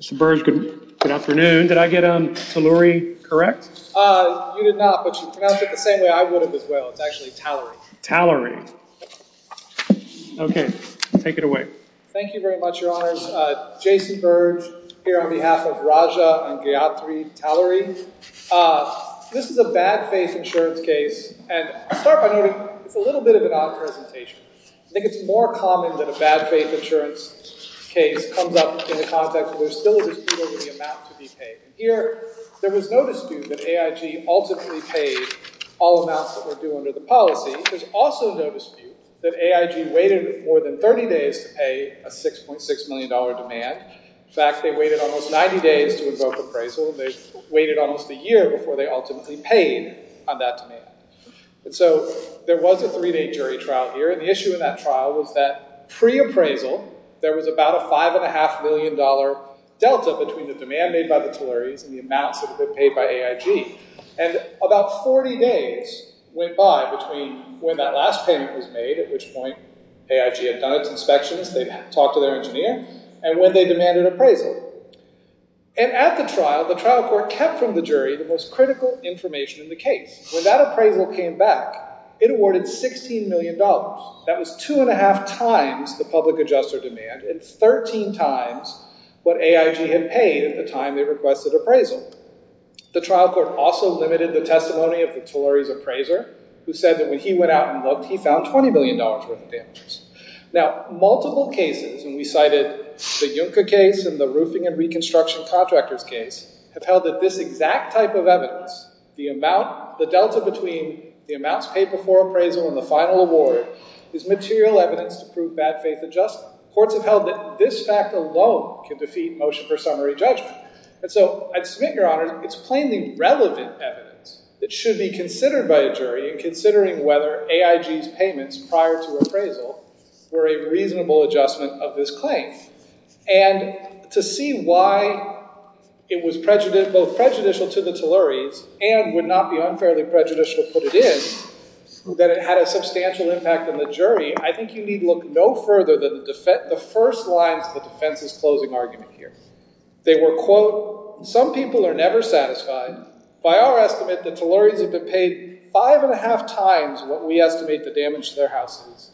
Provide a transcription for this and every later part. Mr. Burge, good afternoon. Did I get Taluri correct? You did not, but you pronounced it the same way I would have as well. It's actually Tallery. Tallery. Okay, take it away. Thank you very much, Your Honors. Jason Burge, here on behalf of Raja and Gayatri Tallery. This is a bad faith insurance case, and I'll start by noting it's a little bit of an odd presentation. I think it's more common that a bad faith insurance case comes up in the context that there's still a dispute over the amount to be paid. Here, there was no dispute that AIG ultimately paid all amounts that were due under the policy. There's also no dispute that AIG waited more than 30 days to pay a $6.6 million demand. In fact, they waited almost 90 days to invoke appraisal, and they waited almost a year before they ultimately paid on that demand. So there was a three-day jury trial here, and the issue in that trial was that pre-appraisal, there was about a $5.5 million delta between the demand made by the Talleries and the amounts that had been paid by AIG. And about 40 days went by between when that last payment was made, at which point AIG had done its inspections, they'd talked to their engineer, and when they demanded appraisal. And at the trial, the trial court kept from the jury the most critical information in the case. When that appraisal came back, it awarded $16 million. That was two and a half times the public adjuster demand, and 13 times what AIG had paid at the time they requested appraisal. The trial court also limited the testimony of the Talleries appraiser, who said that when he went out and looked, he found $20 million worth of damages. Now, multiple cases, and we cited the Juncker case and the roofing and reconstruction contractors case, have held that this exact type of evidence, the delta between the amounts paid before appraisal and the final award, is material evidence to prove bad faith adjustment. Courts have held that this fact alone can defeat motion for summary judgment. And so I'd submit, Your Honor, it's plainly relevant evidence that should be considered by a jury in considering whether AIG's payments prior to appraisal were a reasonable adjustment of this claim. And to see why it was both prejudicial to the Talleries and would not be unfairly prejudicial to put it in, that it had a substantial impact on the jury, I think you need look no further than the first lines of the defense's closing argument here. They were, quote, some people are never satisfied. By our estimate, the Talleries have been paid five and a half times what we estimate the damage to their house is.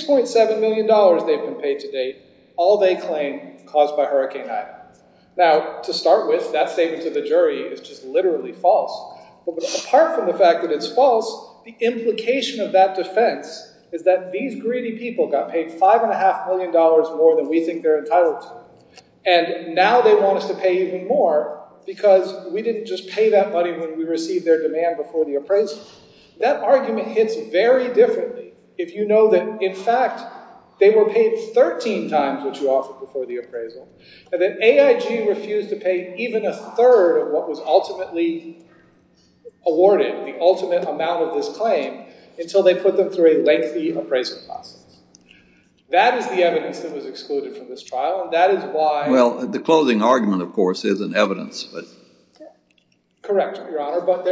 $6.7 million they've been paid to date, all they claim caused by Hurricane Ida. Now, to start with, that statement to the jury is just literally false. But apart from the fact that it's false, the implication of that defense is that these greedy people got paid $5.5 million more than we think they're entitled to. And now they want us to pay even more because we didn't just pay that money when we received their demand before the appraisal. That argument hits very differently if you know that, in fact, they were paid 13 times what you offered before the appraisal. And that AIG refused to pay even a third of what was ultimately awarded, the ultimate amount of this claim, until they put them through a lengthy appraisal process. That is the evidence that was excluded from this trial. And that is why. Well, the closing argument, of course, isn't evidence. Correct, Your Honor. But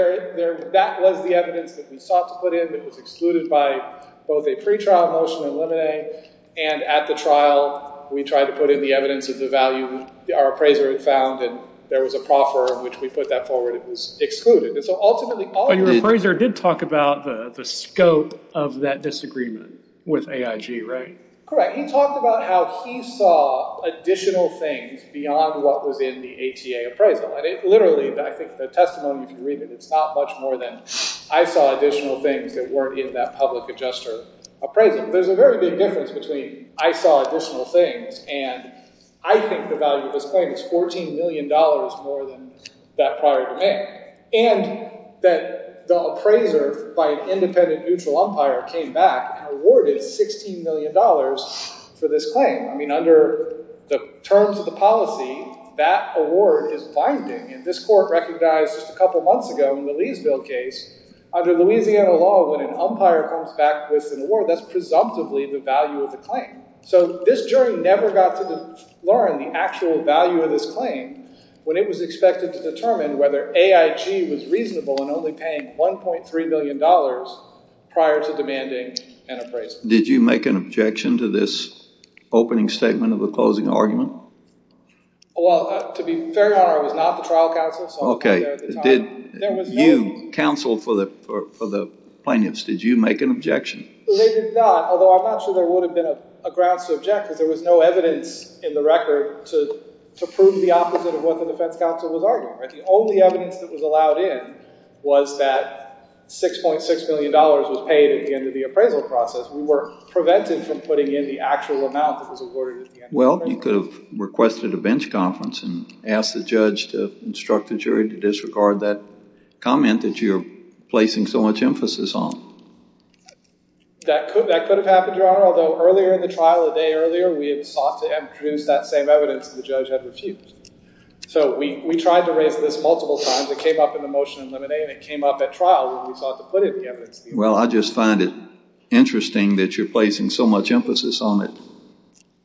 that was the evidence that we sought to put in that was excluded by both a pretrial motion and limine. And at the trial, we tried to put in the evidence of the value our appraiser had found. And there was a proffer in which we put that forward. It was excluded. But your appraiser did talk about the scope of that disagreement with AIG, right? Correct. He talked about how he saw additional things beyond what was in the ATA appraisal. And it literally – I think the testimony can read that it's not much more than I saw additional things that weren't in that public adjuster appraisal. There's a very big difference between I saw additional things and I think the value of this claim is $14 million more than that prior demand. And that the appraiser by an independent neutral umpire came back and awarded $16 million for this claim. I mean under the terms of the policy, that award is binding. And this court recognized just a couple months ago in the Leesville case, under Louisiana law, when an umpire comes back with an award, that's presumptively the value of the claim. So this jury never got to learn the actual value of this claim when it was expected to determine whether AIG was reasonable in only paying $1.3 million prior to demanding an appraisal. Did you make an objection to this opening statement of the closing argument? Well, to be fair, Your Honor, I was not the trial counsel. Okay. So I wasn't there at the time. You counseled for the plaintiffs. Did you make an objection? They did not, although I'm not sure there would have been a grounds to object because there was no evidence in the record to prove the opposite of what the defense counsel was arguing. The only evidence that was allowed in was that $6.6 million was paid at the end of the appraisal process. We were prevented from putting in the actual amount that was awarded at the end of the appraisal. Well, you could have requested a bench conference and asked the judge to instruct the jury to disregard that comment that you're placing so much emphasis on. That could have happened, Your Honor, although earlier in the trial, a day earlier, we had sought to introduce that same evidence that the judge had refused. So we tried to raise this multiple times. It came up in the motion in Limine and it came up at trial when we sought to put in the evidence. Well, I just find it interesting that you're placing so much emphasis on it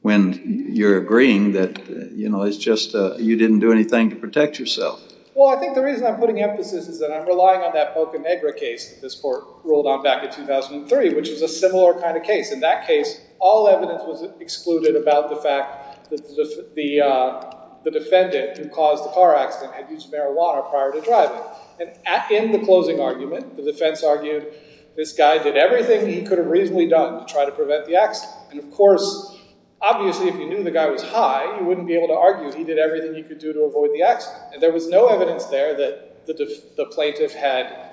when you're agreeing that, you know, it's just you didn't do anything to protect yourself. Well, I think the reason I'm putting emphasis is that I'm relying on that Boca Negra case that this court ruled on back in 2003, which is a similar kind of case. In that case, all evidence was excluded about the fact that the defendant who caused the car accident had used marijuana prior to driving. And in the closing argument, the defense argued this guy did everything he could have reasonably done to try to prevent the accident. And of course, obviously, if you knew the guy was high, you wouldn't be able to argue he did everything he could do to avoid the accident. And there was no evidence there that the plaintiff had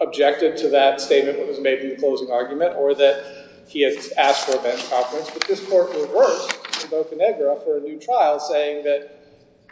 objected to that statement that was made in the closing argument or that he had asked for a bench conference. But this court reversed in Boca Negra for a new trial, saying that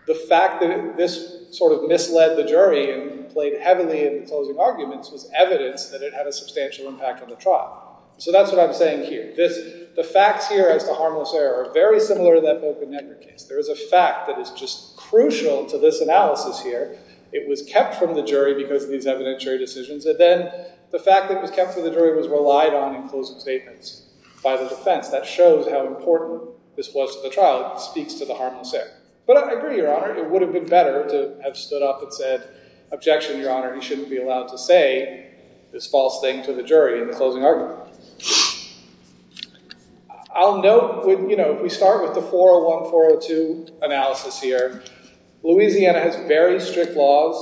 the fact that this sort of misled the jury and played heavily in the closing arguments was evidence that it had a substantial impact on the trial. So that's what I'm saying here. The facts here as to harmless error are very similar to that Boca Negra case. There is a fact that is just crucial to this analysis here. It was kept from the jury because of these evidentiary decisions. And then the fact that it was kept from the jury was relied on in closing statements by the defense. That shows how important this was to the trial. It speaks to the harmless error. But I agree, Your Honor. It would have been better to have stood up and said, objection, Your Honor. You shouldn't be allowed to say this false thing to the jury in the closing argument. I'll note, you know, we start with the 401-402 analysis here. Louisiana has very strict laws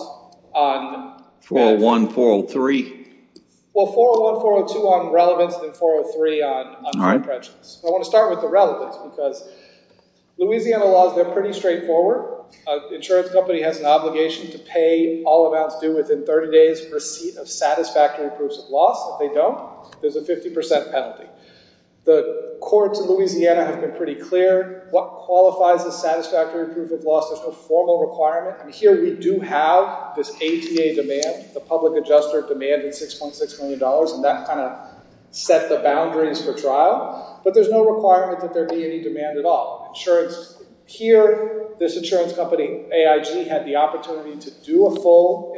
on – 401, 403. Well, 401-402 on relevance and 403 on prejudice. I want to start with the relevance because Louisiana laws, they're pretty straightforward. Insurance company has an obligation to pay all amounts due within 30 days of receipt of satisfactory proofs of loss. If they don't, there's a 50 percent penalty. The courts in Louisiana have been pretty clear. What qualifies as satisfactory proof of loss? There's no formal requirement. Here we do have this ATA demand, the public adjuster demand of $6.6 million, and that kind of set the boundaries for trial. But there's no requirement that there be any demand at all. Insurance – here, this insurance company, AIG, had the opportunity to do a full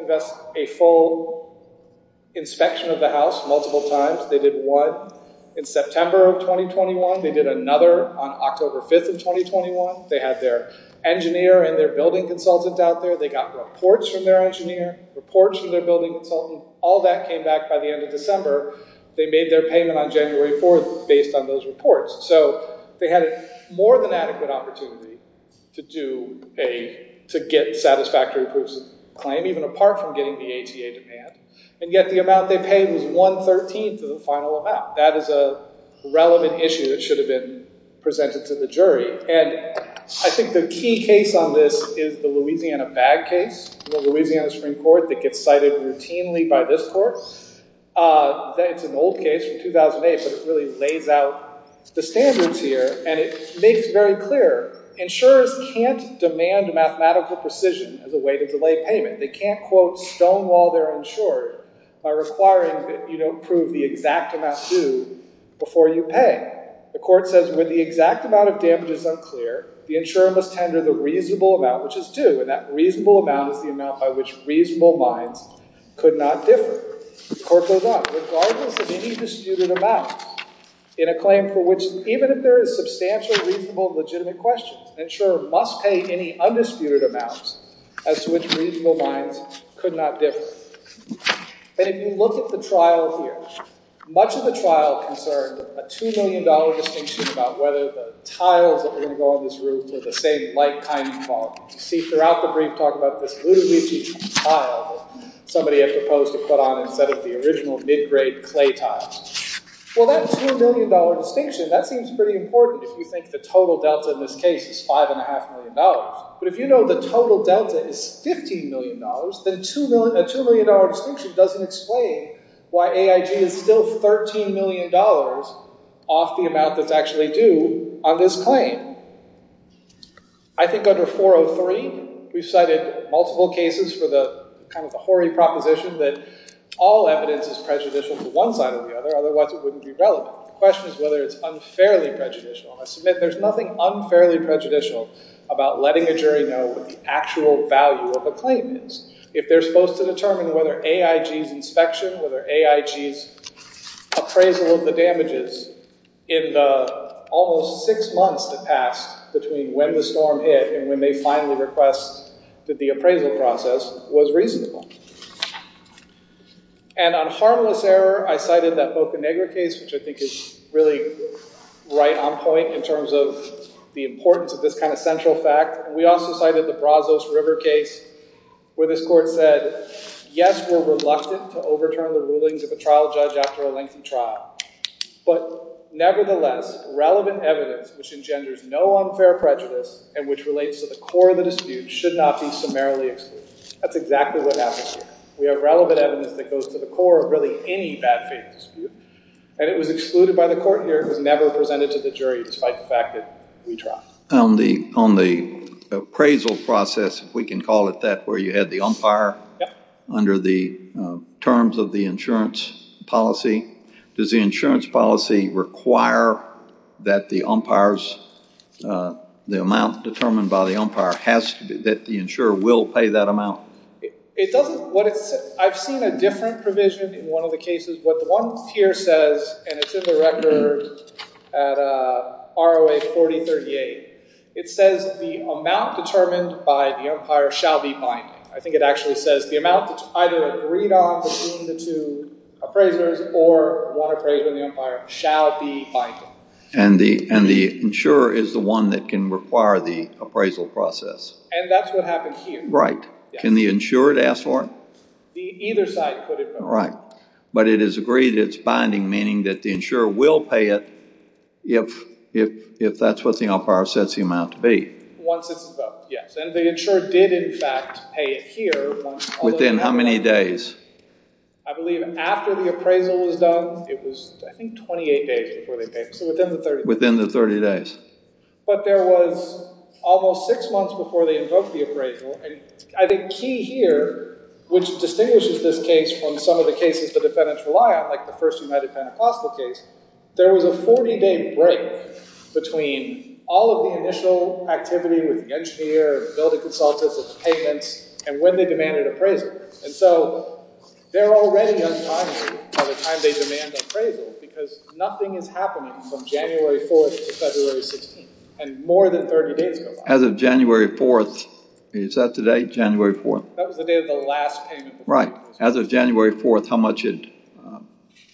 inspection of the house multiple times. They did one in September of 2021. They did another on October 5th of 2021. They had their engineer and their building consultant out there. They got reports from their engineer, reports from their building consultant. All that came back by the end of December. They made their payment on January 4th based on those reports. So they had a more than adequate opportunity to do a – to get satisfactory proofs of claim, even apart from getting the ATA demand. And yet the amount they paid was one-thirteenth of the final amount. That is a relevant issue that should have been presented to the jury. And I think the key case on this is the Louisiana bag case, the Louisiana Supreme Court that gets cited routinely by this court. It's an old case from 2008, but it really lays out the standards here. And it makes very clear, insurers can't demand mathematical precision as a way to delay payment. They can't, quote, stonewall their insurer by requiring that you don't prove the exact amount due before you pay. The court says when the exact amount of damage is unclear, the insurer must tender the reasonable amount, which is due. And that reasonable amount is the amount by which reasonable minds could not differ. The court goes on. Regardless of any disputed amount in a claim for which even if there is substantial, reasonable, legitimate questions, the insurer must pay any undisputed amounts as to which reasonable minds could not differ. And if you look at the trial here, much of the trial concerned a $2 million distinction about whether the tiles that are going to go on this roof are the same like kind of quality. You see throughout the brief talk about this Luigi tile that somebody had proposed to put on instead of the original mid-grade clay tile. Well, that $2 million distinction, that seems pretty important if you think the total delta in this case is $5.5 million. But if you know the total delta is $15 million, then a $2 million distinction doesn't explain why AIG is still $13 million off the amount that's actually due on this claim. I think under 403, we've cited multiple cases for the kind of the hoary proposition that all evidence is prejudicial to one side or the other. Otherwise, it wouldn't be relevant. The question is whether it's unfairly prejudicial. And I submit there's nothing unfairly prejudicial about letting a jury know what the actual value of a claim is. If they're supposed to determine whether AIG's inspection, whether AIG's appraisal of the damages in the almost six months that passed between when the storm hit and when they finally request that the appraisal process was reasonable. And on harmless error, I cited that Boca Negra case, which I think is really right on point in terms of the importance of this kind of central fact. We also cited the Brazos River case where this court said, yes, we're reluctant to overturn the rulings of a trial judge after a lengthy trial. But nevertheless, relevant evidence which engenders no unfair prejudice and which relates to the core of the dispute should not be summarily excluded. That's exactly what happened here. We have relevant evidence that goes to the core of really any bad faith dispute. And it was excluded by the court here. It was never presented to the jury despite the fact that we tried. On the appraisal process, if we can call it that, where you had the umpire under the terms of the insurance policy, does the insurance policy require that the amount determined by the umpire, that the insurer will pay that amount? I've seen a different provision in one of the cases. What the one here says, and it's in the record at ROA 4038, it says the amount determined by the umpire shall be binding. I think it actually says the amount that's either agreed on between the two appraisers or one appraiser and the umpire shall be binding. And the insurer is the one that can require the appraisal process. And that's what happened here. Right. Can the insurer ask for it? Either side could. Right. But it is agreed that it's binding, meaning that the insurer will pay it if that's what the umpire sets the amount to be. Once it's invoked, yes. And the insurer did, in fact, pay it here. Within how many days? I believe after the appraisal was done. It was, I think, 28 days before they paid. So within the 30 days. Within the 30 days. But there was almost six months before they invoked the appraisal. And I think key here, which distinguishes this case from some of the cases the defendants rely on, like the first United Pentecostal case, there was a 40-day break between all of the initial activity with the engineer, building consultants, and payments, and when they demanded appraisal. And so they're already untimely by the time they demand appraisal because nothing is happening from January 4th to February 16th. And more than 30 days go by. As of January 4th, is that today, January 4th? That was the day of the last payment. Right. As of January 4th, how much had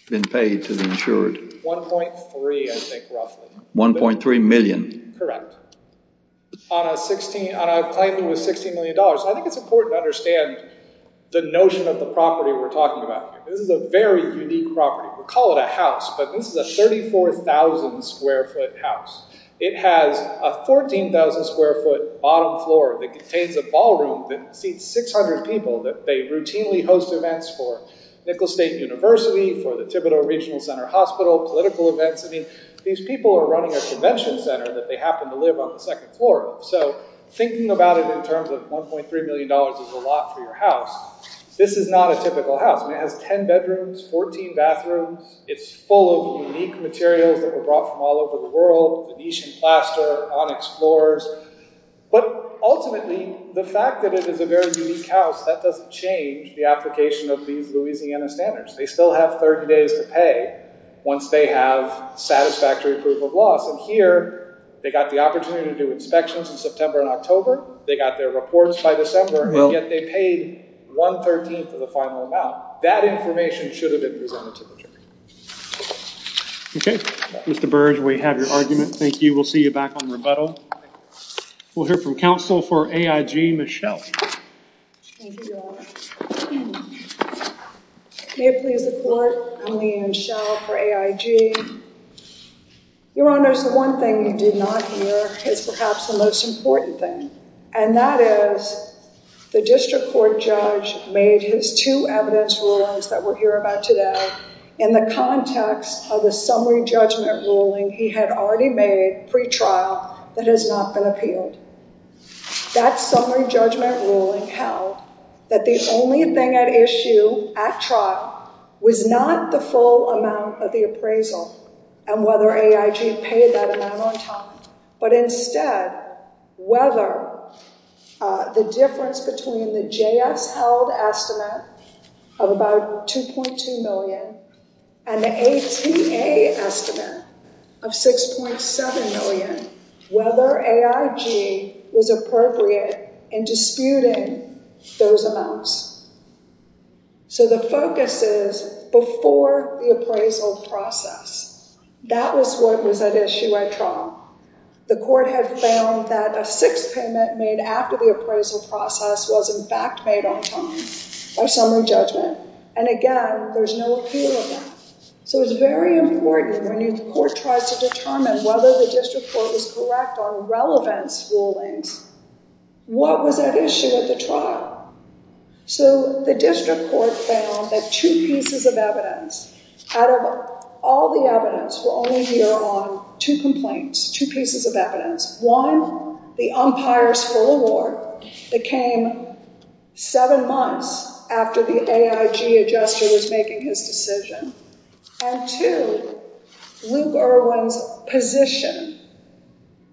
been paid to the insured? 1.3, I think, roughly. 1.3 million. Correct. On a claim that was $16 million. I think it's important to understand the notion of the property we're talking about here. This is a very unique property. We call it a house, but this is a 34,000-square-foot house. It has a 14,000-square-foot bottom floor that contains a ballroom that seats 600 people. They routinely host events for Nicholas State University, for the Thibodeau Regional Center Hospital, political events. These people are running a convention center that they happen to live on the second floor of. So thinking about it in terms of $1.3 million is a lot for your house. This is not a typical house. It has 10 bedrooms, 14 bathrooms. It's full of unique materials that were brought from all over the world, Venetian plaster, onyx floors. But ultimately, the fact that it is a very unique house, that doesn't change the application of these Louisiana standards. They still have 30 days to pay once they have satisfactory proof of loss. And here, they got the opportunity to do inspections in September and October. They got their reports by December, and yet they paid 1.3 for the final amount. That information should have been presented to the jury. Okay. Mr. Burge, we have your argument. Thank you. We'll see you back on rebuttal. We'll hear from counsel for AIG, Michelle. Thank you, Your Honor. May it please the Court, I'm Leigh Ann Schell for AIG. Your Honors, the one thing you did not hear is perhaps the most important thing, and that is the district court judge made his two evidence rulings that we'll hear about today in the context of the summary judgment ruling he had already made pre-trial that has not been appealed. That summary judgment ruling held that the only thing at issue at trial was not the full amount of the appraisal and whether AIG paid that amount on time, but instead whether the difference between the JS-held estimate of about $2.2 million and the ATA estimate of $6.7 million, whether AIG was appropriate in disputing those amounts. So the focus is before the appraisal process. That was what was at issue at trial. The Court had found that a sixth payment made after the appraisal process was in fact made on time by summary judgment. And again, there's no appeal of that. So it's very important when the Court tries to determine whether the district court is correct on relevance rulings, what was at issue at the trial? So the district court found that two pieces of evidence, out of all the evidence, we'll only hear on two complaints, two pieces of evidence. One, the umpire's full award that came seven months after the AIG adjuster was making his decision. And two, Luke Irwin's position,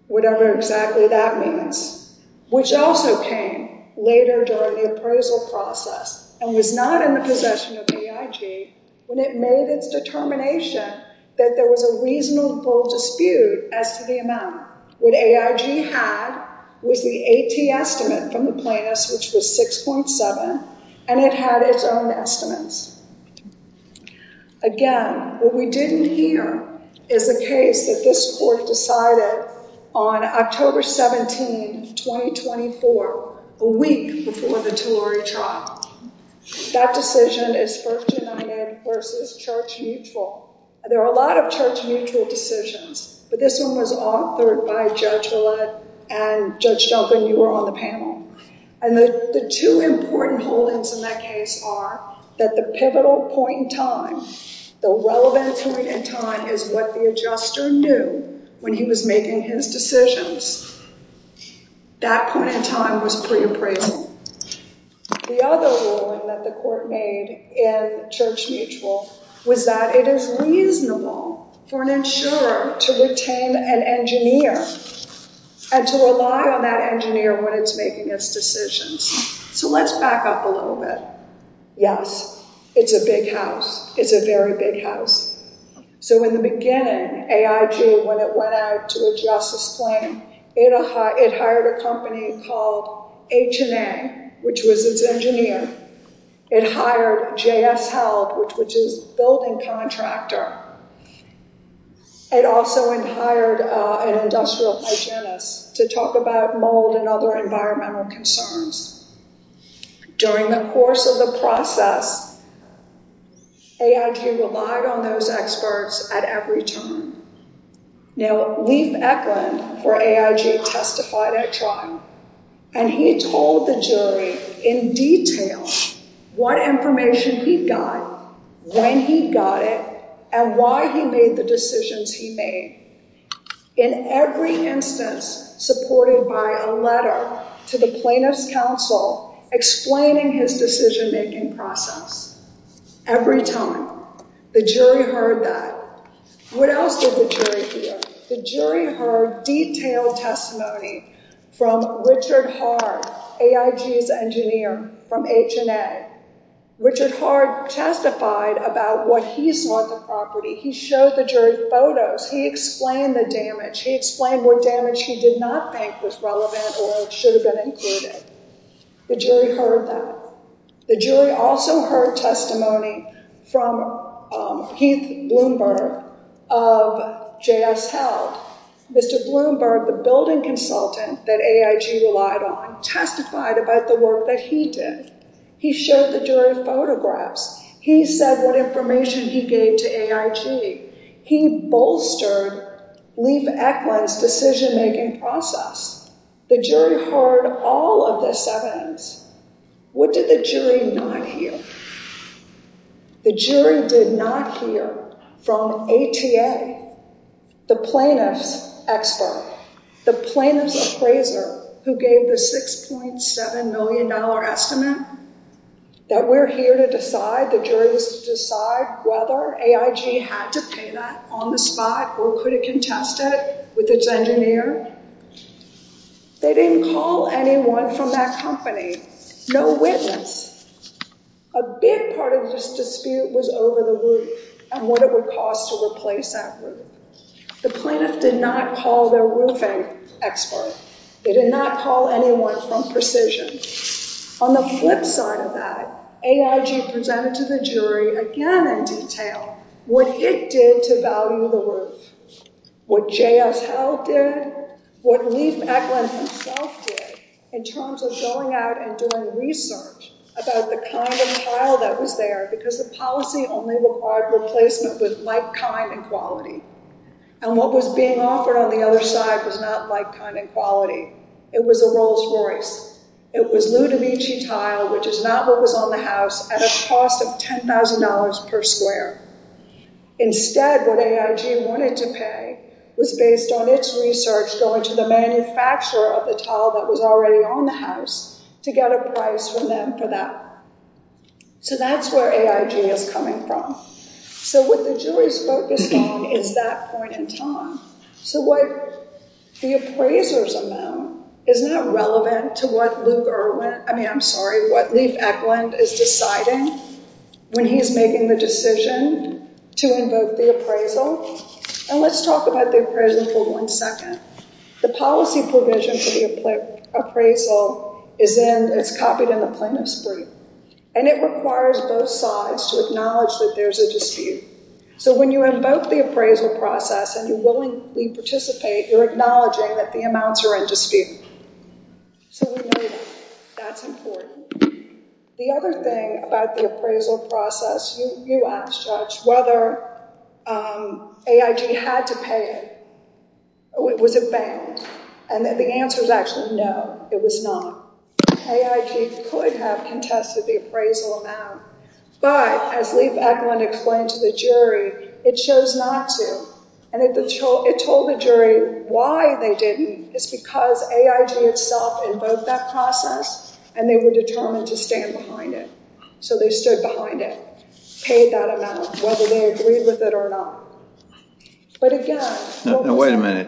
whatever exactly that means, which also came later during the appraisal process and was not in the possession of AIG when it made its determination that there was a reasonable dispute as to the amount. What AIG had was the AT estimate from the plaintiffs, which was 6.7, and it had its own estimates. Again, what we didn't hear is the case that this Court decided on October 17, 2024, a week before the Tulare trial. That decision is First United versus Church Mutual. There are a lot of Church Mutual decisions, but this one was authored by Judge Villette and Judge Duncan, you were on the panel. And the two important holdings in that case are that the pivotal point in time, the relevant point in time is what the adjuster knew when he was making his decisions. That point in time was pre-appraisal. The other ruling that the Court made in Church Mutual was that it is reasonable for an insurer to retain an engineer and to rely on that engineer when it's making its decisions. So let's back up a little bit. Yes, it's a big house. It's a very big house. So in the beginning, AIG, when it went out to adjust its claim, it hired a company called H&A, which was its engineer. It hired JS Health, which is a building contractor. It also hired an industrial hygienist to talk about mold and other environmental concerns. During the course of the process, AIG relied on those experts at every turn. Now, Lief Eklund for AIG testified at trial, and he told the jury in detail what information he got, when he got it, and why he made the decisions he made. In every instance, supported by a letter to the plaintiff's counsel explaining his decision-making process. Every time. The jury heard that. What else did the jury hear? The jury heard detailed testimony from Richard Hard, AIG's engineer from H&A. Richard Hard testified about what he saw at the property. He showed the jury photos. He explained the damage. He explained what damage he did not think was relevant or should have been included. The jury heard that. The jury also heard testimony from Heath Bloomberg of JS Health. Mr. Bloomberg, the building consultant that AIG relied on, testified about the work that he did. He showed the jury photographs. He said what information he gave to AIG. He bolstered Lief Eklund's decision-making process. The jury heard all of this evidence. What did the jury not hear? The jury did not hear from ATA, the plaintiff's expert, the plaintiff's appraiser, who gave the $6.7 million estimate that we're here to decide, the jury was to decide whether AIG had to pay that on the spot or could it contest it with its engineer. They didn't call anyone from that company, no witness. A big part of this dispute was over the roof and what it would cost to replace that roof. The plaintiff did not call their roofing expert. They did not call anyone from Precision. On the flip side of that, AIG presented to the jury again in detail what it did to value the roof, what J.S. Howell did, what Lief Eklund himself did in terms of going out and doing research about the condom tile that was there because the policy only required replacement with like, kind, and quality. And what was being offered on the other side was not like, kind, and quality. It was a Rolls Royce. It was Ludovici tile, which is not what was on the house, at a cost of $10,000 per square. Instead, what AIG wanted to pay was based on its research going to the manufacturer of the tile that was already on the house to get a price from them for that. So that's where AIG is coming from. So what the jury's focused on is that point in time. So what the appraiser's amount is not relevant to what Lief Eklund is deciding when he's making the decision to invoke the appraisal. And let's talk about the appraisal for one second. The policy provision for the appraisal is copied in the plaintiff's brief. And it requires both sides to acknowledge that there's a dispute. So when you invoke the appraisal process and you willingly participate, you're acknowledging that the amounts are in dispute. So we know that. That's important. The other thing about the appraisal process, you asked, Judge, whether AIG had to pay it. Was it banned? And the answer is actually no, it was not. AIG could have contested the appraisal amount. But as Lief Eklund explained to the jury, it chose not to. And it told the jury why they didn't. It's because AIG itself invoked that process and they were determined to stand behind it. So they stood behind it, paid that amount, whether they agreed with it or not. But again, what was that? Now, wait a minute.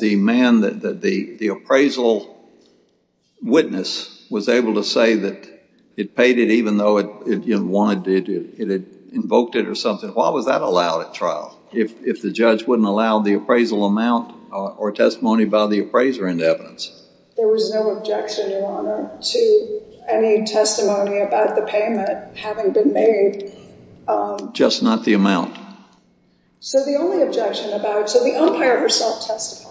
The man that the appraisal witness was able to say that it paid it even though it had invoked it or something, why was that allowed at trial if the judge wouldn't allow the appraisal amount or testimony by the appraiser in evidence? There was no objection, Your Honor, to any testimony about the payment having been made. Just not the amount. So the only objection about, so the umpire herself testified.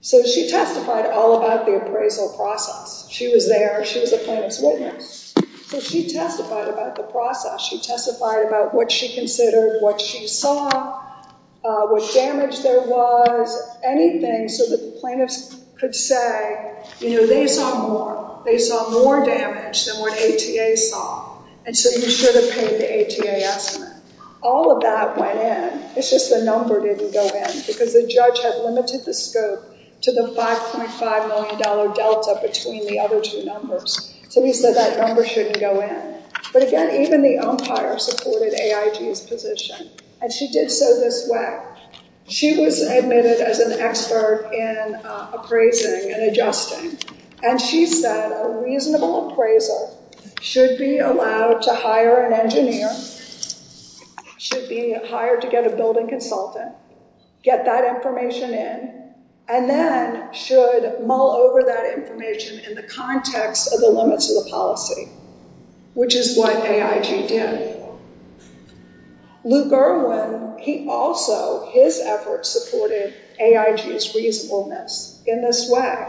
So she testified all about the appraisal process. She was there. She was the plaintiff's witness. So she testified about the process. She testified about what she considered, what she saw, what damage there was, anything so that the plaintiffs could say, you know, they saw more. They saw more damage than what ATA saw. And so you should have paid the ATA estimate. All of that went in. It's just the number didn't go in because the judge had limited the scope to the $5.5 million delta between the other two numbers. So he said that number shouldn't go in. But again, even the umpire supported AIG's position. And she did so this way. She was admitted as an expert in appraising and adjusting. And she said a reasonable appraiser should be allowed to hire an engineer, should be hired to get a building consultant, get that information in, and then should mull over that information in the context of the limits of the policy, which is what AIG did. Lou Gerwin, he also, his efforts supported AIG's reasonableness in this way.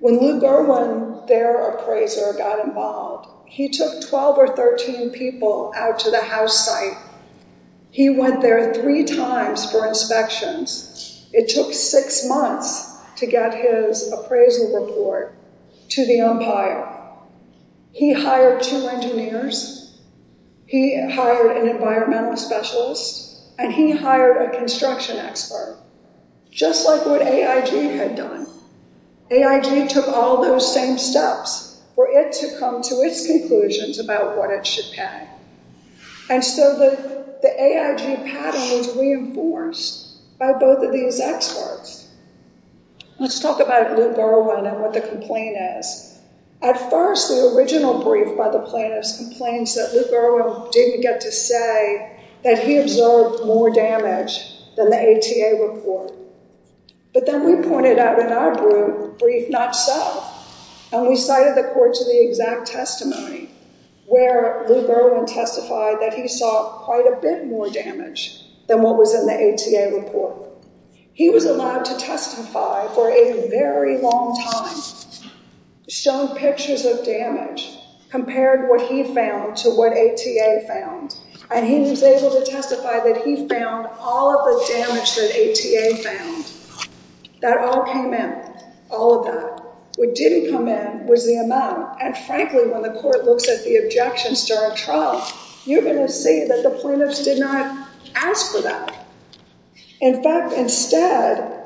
When Lou Gerwin, their appraiser, got involved, he took 12 or 13 people out to the house site. He went there three times for inspections. It took six months to get his appraisal report to the umpire. He hired two engineers. He hired an environmental specialist. And he hired a construction expert, just like what AIG had done. AIG took all those same steps for it to come to its conclusions about what it should pay. And so the AIG padding was reinforced by both of these experts. Let's talk about Lou Gerwin and what the complaint is. At first, the original brief by the plaintiffs complains that Lou Gerwin didn't get to say that he observed more damage than the ATA report. But then we pointed out in our brief not so, and we cited the court to the exact testimony where Lou Gerwin testified that he saw quite a bit more damage than what was in the ATA report. He was allowed to testify for a very long time, showing pictures of damage, compared what he found to what ATA found. And he was able to testify that he found all of the damage that ATA found. That all came in, all of that. What didn't come in was the amount. And frankly, when the court looks at the objections to our trial, you're going to see that the plaintiffs did not ask for that. In fact, instead,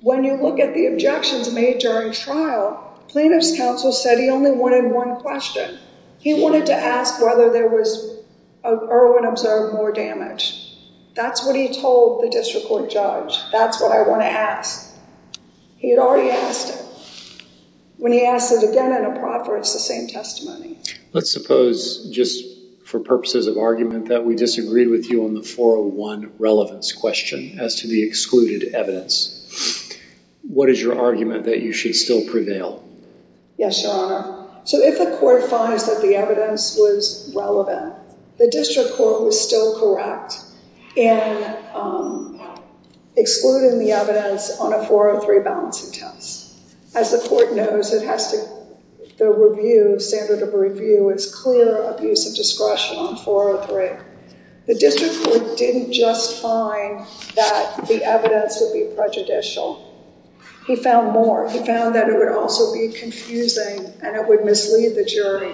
when you look at the objections made during trial, plaintiffs' counsel said he only wanted one question. He wanted to ask whether there was, of Erwin observed more damage. That's what he told the district court judge. That's what I want to ask. He had already asked it. When he asked it again in a proffer, it's the same testimony. Let's suppose, just for purposes of argument, that we disagreed with you on the 401 relevance question as to the excluded evidence. What is your argument that you should still prevail? Yes, Your Honor. So if the court finds that the evidence was relevant, the district court was still correct in excluding the evidence on a 403 balancing test. As the court knows, the review, standard of review, is clear abuse of discretion on 403. The district court didn't just find that the evidence would be prejudicial. He found more. He found that it would also be confusing and it would mislead the jury.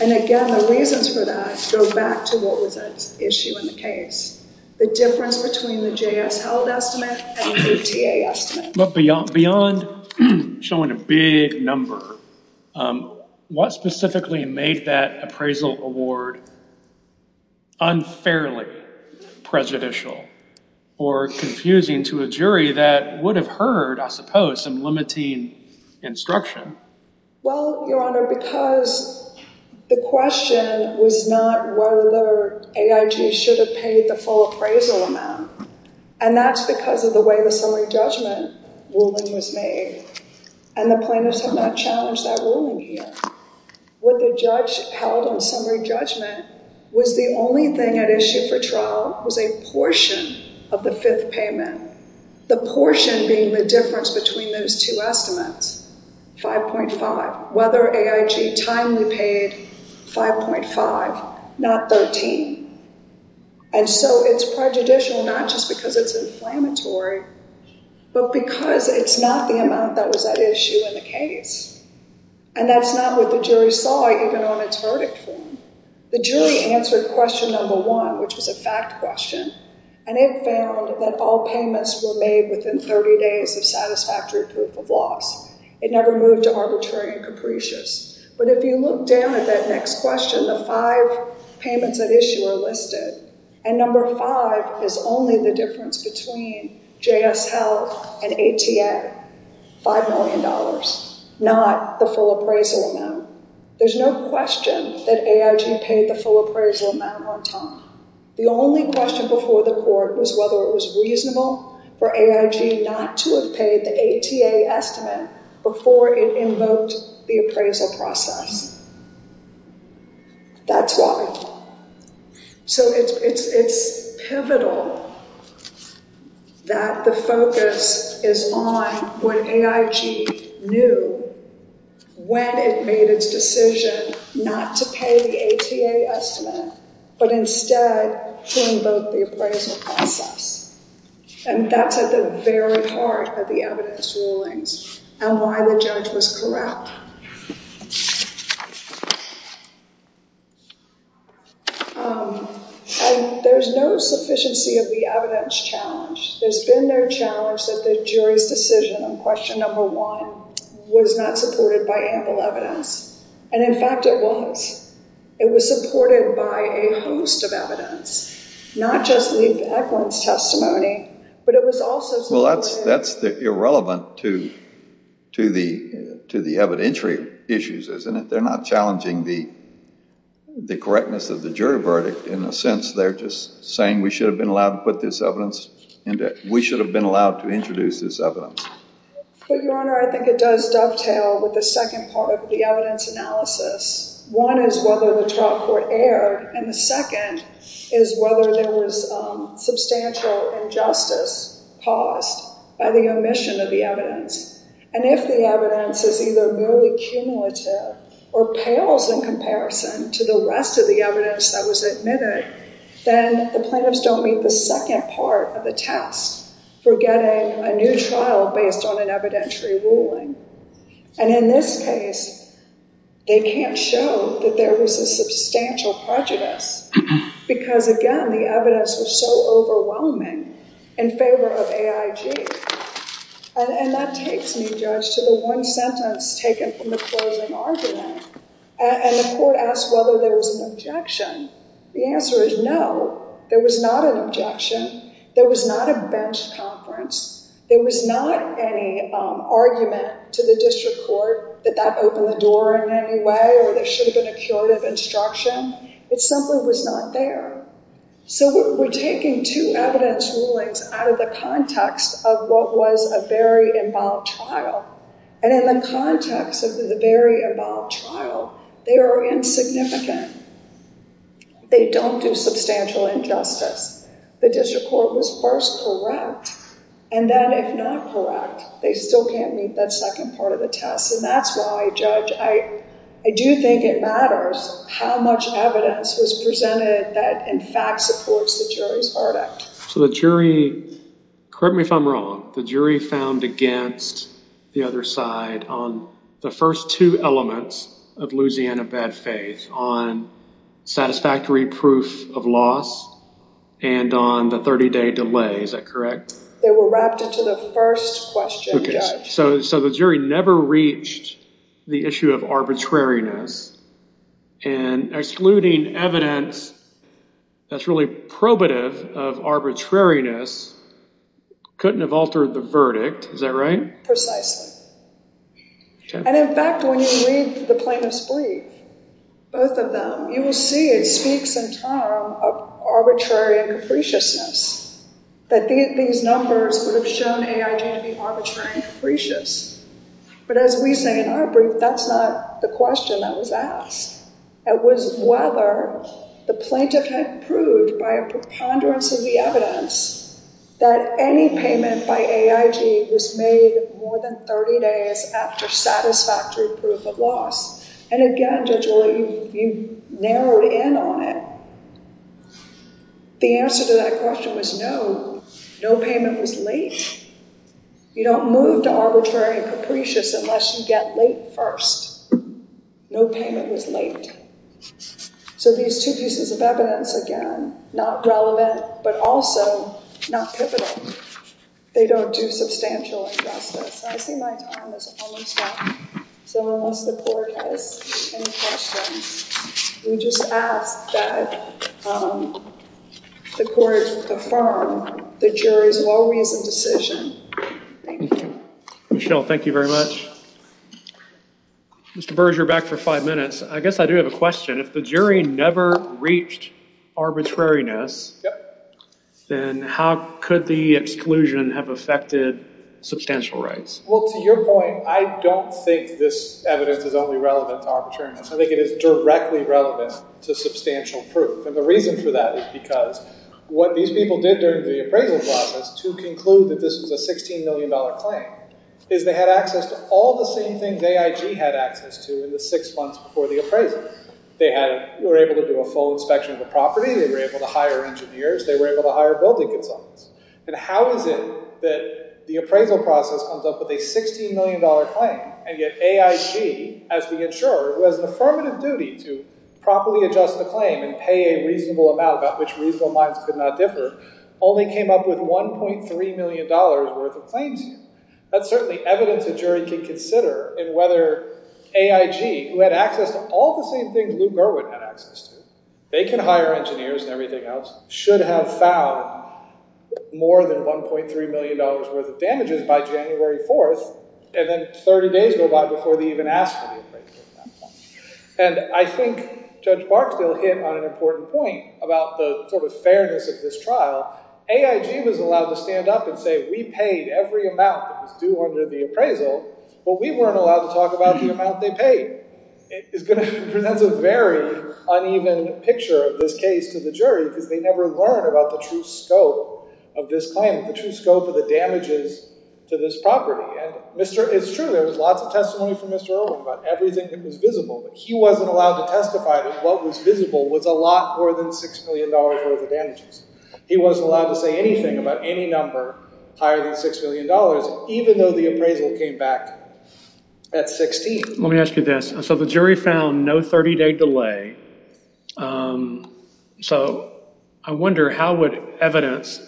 Again, the reasons for that go back to what was at issue in the case, the difference between the JS held estimate and the KTA estimate. But beyond showing a big number, what specifically made that appraisal award unfairly prejudicial or confusing to a jury that would have heard, I suppose, some limiting instruction? Well, Your Honor, because the question was not whether AIG should have paid the full appraisal amount, and that's because of the way the summary judgment ruling was made, and the plaintiffs have not challenged that ruling here. What the judge held in summary judgment was the only thing at issue for trial was a portion of the fifth payment, the portion being the difference between those two estimates, 5.5, whether AIG timely paid 5.5, not 13. And so it's prejudicial not just because it's inflammatory, but because it's not the amount that was at issue in the case. And that's not what the jury saw even on its verdict form. The jury answered question number one, which was a fact question, and it found that all payments were made within 30 days of satisfactory proof of loss. It never moved to arbitrary and capricious. But if you look down at that next question, the five payments at issue are listed, and number five is only the difference between JS Health and ATA, $5 million, not the full appraisal amount. There's no question that AIG paid the full appraisal amount on time. The only question before the court was whether it was reasonable for AIG not to have paid the ATA estimate before it invoked the appraisal process. That's why. So it's pivotal that the focus is on what AIG knew when it made its decision not to pay the ATA estimate, but instead to invoke the appraisal process. And that's at the very heart of the evidence rulings and why the judge was corrupt. There's no sufficiency of the evidence challenge. There's been no challenge that the jury's decision on question number one was not supported by ample evidence. And, in fact, it was. It was supported by a host of evidence, not just the evidence testimony, but it was also supported. Well, that's irrelevant to the evidentiary issues, isn't it? They're not challenging the correctness of the jury verdict. In a sense, they're just saying we should have been allowed to put this evidence in there. We should have been allowed to introduce this evidence. But, Your Honor, I think it does dovetail with the second part of the evidence analysis. One is whether the trial court erred, and the second is whether there was substantial injustice caused by the omission of the evidence. And if the evidence is either merely cumulative or pales in comparison to the rest of the evidence that was admitted, then the plaintiffs don't meet the second part of the test for getting a new trial based on an evidentiary ruling. And, in this case, they can't show that there was a substantial prejudice because, again, the evidence was so overwhelming in favor of AIG. And that takes me, Judge, to the one sentence taken from the closing argument. And the court asked whether there was an objection. The answer is no, there was not an objection. There was not a bench conference. There was not any argument to the district court that that opened the door in any way or there should have been a curative instruction. It simply was not there. So we're taking two evidence rulings out of the context of what was a very involved trial. And in the context of the very involved trial, they are insignificant. They don't do substantial injustice. The district court was first correct, and then, if not correct, they still can't meet that second part of the test. And that's why, Judge, I do think it matters how much evidence was presented that, in fact, supports the jury's verdict. So the jury, correct me if I'm wrong, the jury found against the other side on the first two elements of Louisiana bad faith, on satisfactory proof of loss and on the 30-day delay. Is that correct? They were wrapped into the first question, Judge. So the jury never reached the issue of arbitrariness and excluding evidence that's really probative of arbitrariness couldn't have altered the verdict. Is that right? Precisely. And, in fact, when you read the plaintiff's brief, both of them, you will see it speaks in terms of arbitrary and capriciousness, that these numbers would have shown AIJ to be arbitrary and capricious. But as we say in our brief, that's not the question that was asked. It was whether the plaintiff had proved by a preponderance of the evidence that any payment by AIJ was made more than 30 days after satisfactory proof of loss. And, again, Judge Willett, you narrowed in on it. The answer to that question was no. No payment was late. You don't move to arbitrary and capricious unless you get late first. No payment was late. So these two pieces of evidence, again, not relevant but also not pivotal, they don't do substantial injustice. I see my time is almost up. So unless the court has any questions, we just ask that the court affirm the jury's well-reasoned decision. Thank you. Michelle, thank you very much. Mr. Burge, you're back for five minutes. I guess I do have a question. If the jury never reached arbitrariness, then how could the exclusion have affected substantial rights? Well, to your point, I don't think this evidence is only relevant to arbitrariness. I think it is directly relevant to substantial proof. And the reason for that is because what these people did during the appraisal process to conclude that this was a $16 million claim is they had access to all the same things AIG had access to in the six months before the appraisal. They were able to do a full inspection of the property. They were able to hire engineers. They were able to hire building consultants. And how is it that the appraisal process comes up with a $16 million claim, and yet AIG, as the insurer, who has an affirmative duty to properly adjust the claim and pay a reasonable amount, about which reasonable minds could not differ, only came up with $1.3 million worth of claims here? That's certainly evidence a jury can consider in whether AIG, who had access to all the same things Lou Gerwin had access to, they can hire engineers and everything else, should have found more than $1.3 million worth of damages by January 4th, and then 30 days go by before they even asked for the appraisal at that point. And I think Judge Barksdale hit on an important point about the sort of fairness of this trial. AIG was allowed to stand up and say, we paid every amount that was due under the appraisal, but we weren't allowed to talk about the amount they paid. It presents a very uneven picture of this case to the jury because they never learn about the true scope of this claim, the true scope of the damages to this property. And it's true, there was lots of testimony from Mr. Irwin about everything that was visible, but he wasn't allowed to testify that what was visible was a lot more than $6 million worth of damages. He wasn't allowed to say anything about any number higher than $6 million, even though the appraisal came back at 16. Let me ask you this. So the jury found no 30-day delay. So I wonder how would evidence,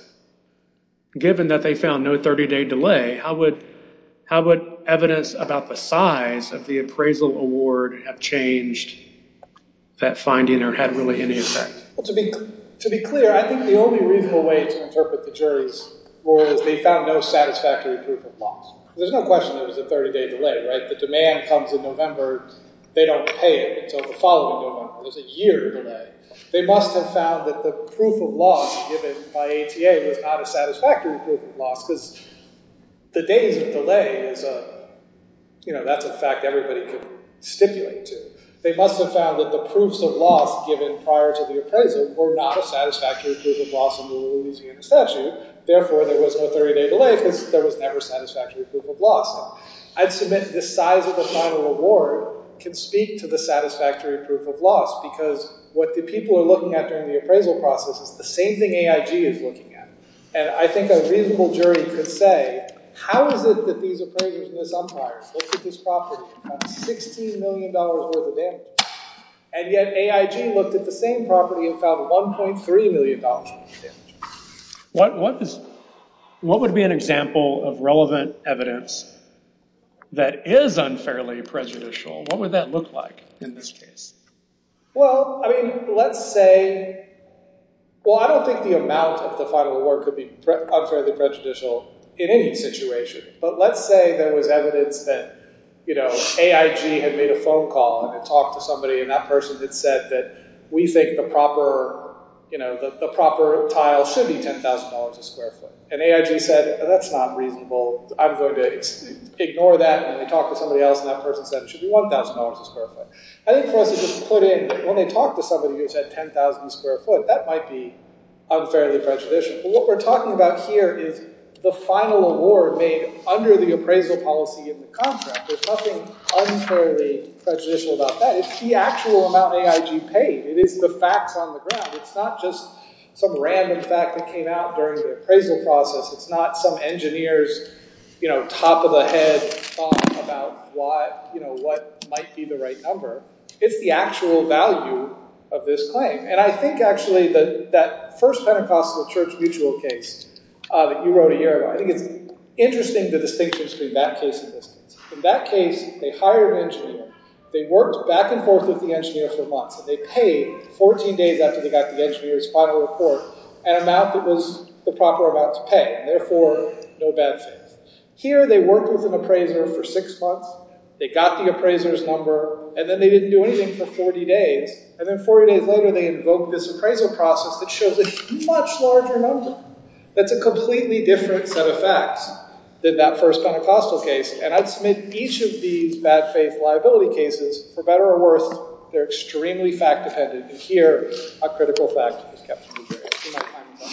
given that they found no 30-day delay, how would evidence about the size of the appraisal award have changed that finding or had really any effect? To be clear, I think the only reasonable way to interpret the jury's rule is they found no satisfactory proof of loss. There's no question there was a 30-day delay, right? The demand comes in November. They don't pay it until the following November. There's a year delay. They must have found that the proof of loss given by ATA was not a satisfactory proof of loss because the days of delay is a, you know, that's a fact everybody could stipulate to. They must have found that the proofs of loss given prior to the appraisal were not a satisfactory proof of loss in the Louisiana statute. Therefore, there was no 30-day delay because there was never satisfactory proof of loss. I'd submit the size of the final award can speak to the satisfactory proof of loss because what the people are looking at during the appraisal process is the same thing AIG is looking at. And I think a reasonable jury could say, how is it that these appraisers and these umpires looked at this property and found $16 million worth of damage and yet AIG looked at the same property and found $1.3 million worth of damage? What would be an example of relevant evidence that is unfairly prejudicial? What would that look like in this case? Well, I mean, let's say, well, I don't think the amount of the final award could be unfairly prejudicial in any situation. But let's say there was evidence that, you know, AIG had made a phone call and had talked to somebody and that person had said that we think the proper, you know, the proper tile should be $10,000 a square foot. And AIG said, that's not reasonable. I'm going to ignore that. And they talked to somebody else and that person said it should be $1,000 a square foot. I think for us to just put in, when they talk to somebody who said $10,000 a square foot, that might be unfairly prejudicial. But what we're talking about here is the final award made under the appraisal policy in the contract. There's nothing unfairly prejudicial about that. It's the actual amount AIG paid. It is the facts on the ground. It's not just some random fact that came out during the appraisal process. It's not some engineer's, you know, top of the head thought about what, you know, what might be the right number. It's the actual value of this claim. And I think, actually, that first Pentecostal church mutual case that you wrote a year ago, I think it's interesting the distinction between that case and this case. In that case, they hired an engineer. They worked back and forth with the engineer for months. And they paid 14 days after they got the engineer's final report an amount that was the proper amount to pay. Therefore, no bad faith. Here, they worked with an appraiser for six months. They got the appraiser's number. And then they didn't do anything for 40 days. And then 40 days later, they invoked this appraisal process that shows a much larger number. That's a completely different set of facts than that first Pentecostal case. And I'd submit each of these bad faith liability cases, for better or worse, they're extremely fact-dependent. And here, a critical fact is kept.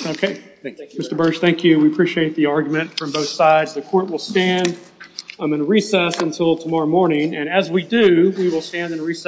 OK. Thank you. Mr. Bursch, thank you. We appreciate the argument from both sides. The court will stand in recess until tomorrow morning. And as we do, we will stand in recess.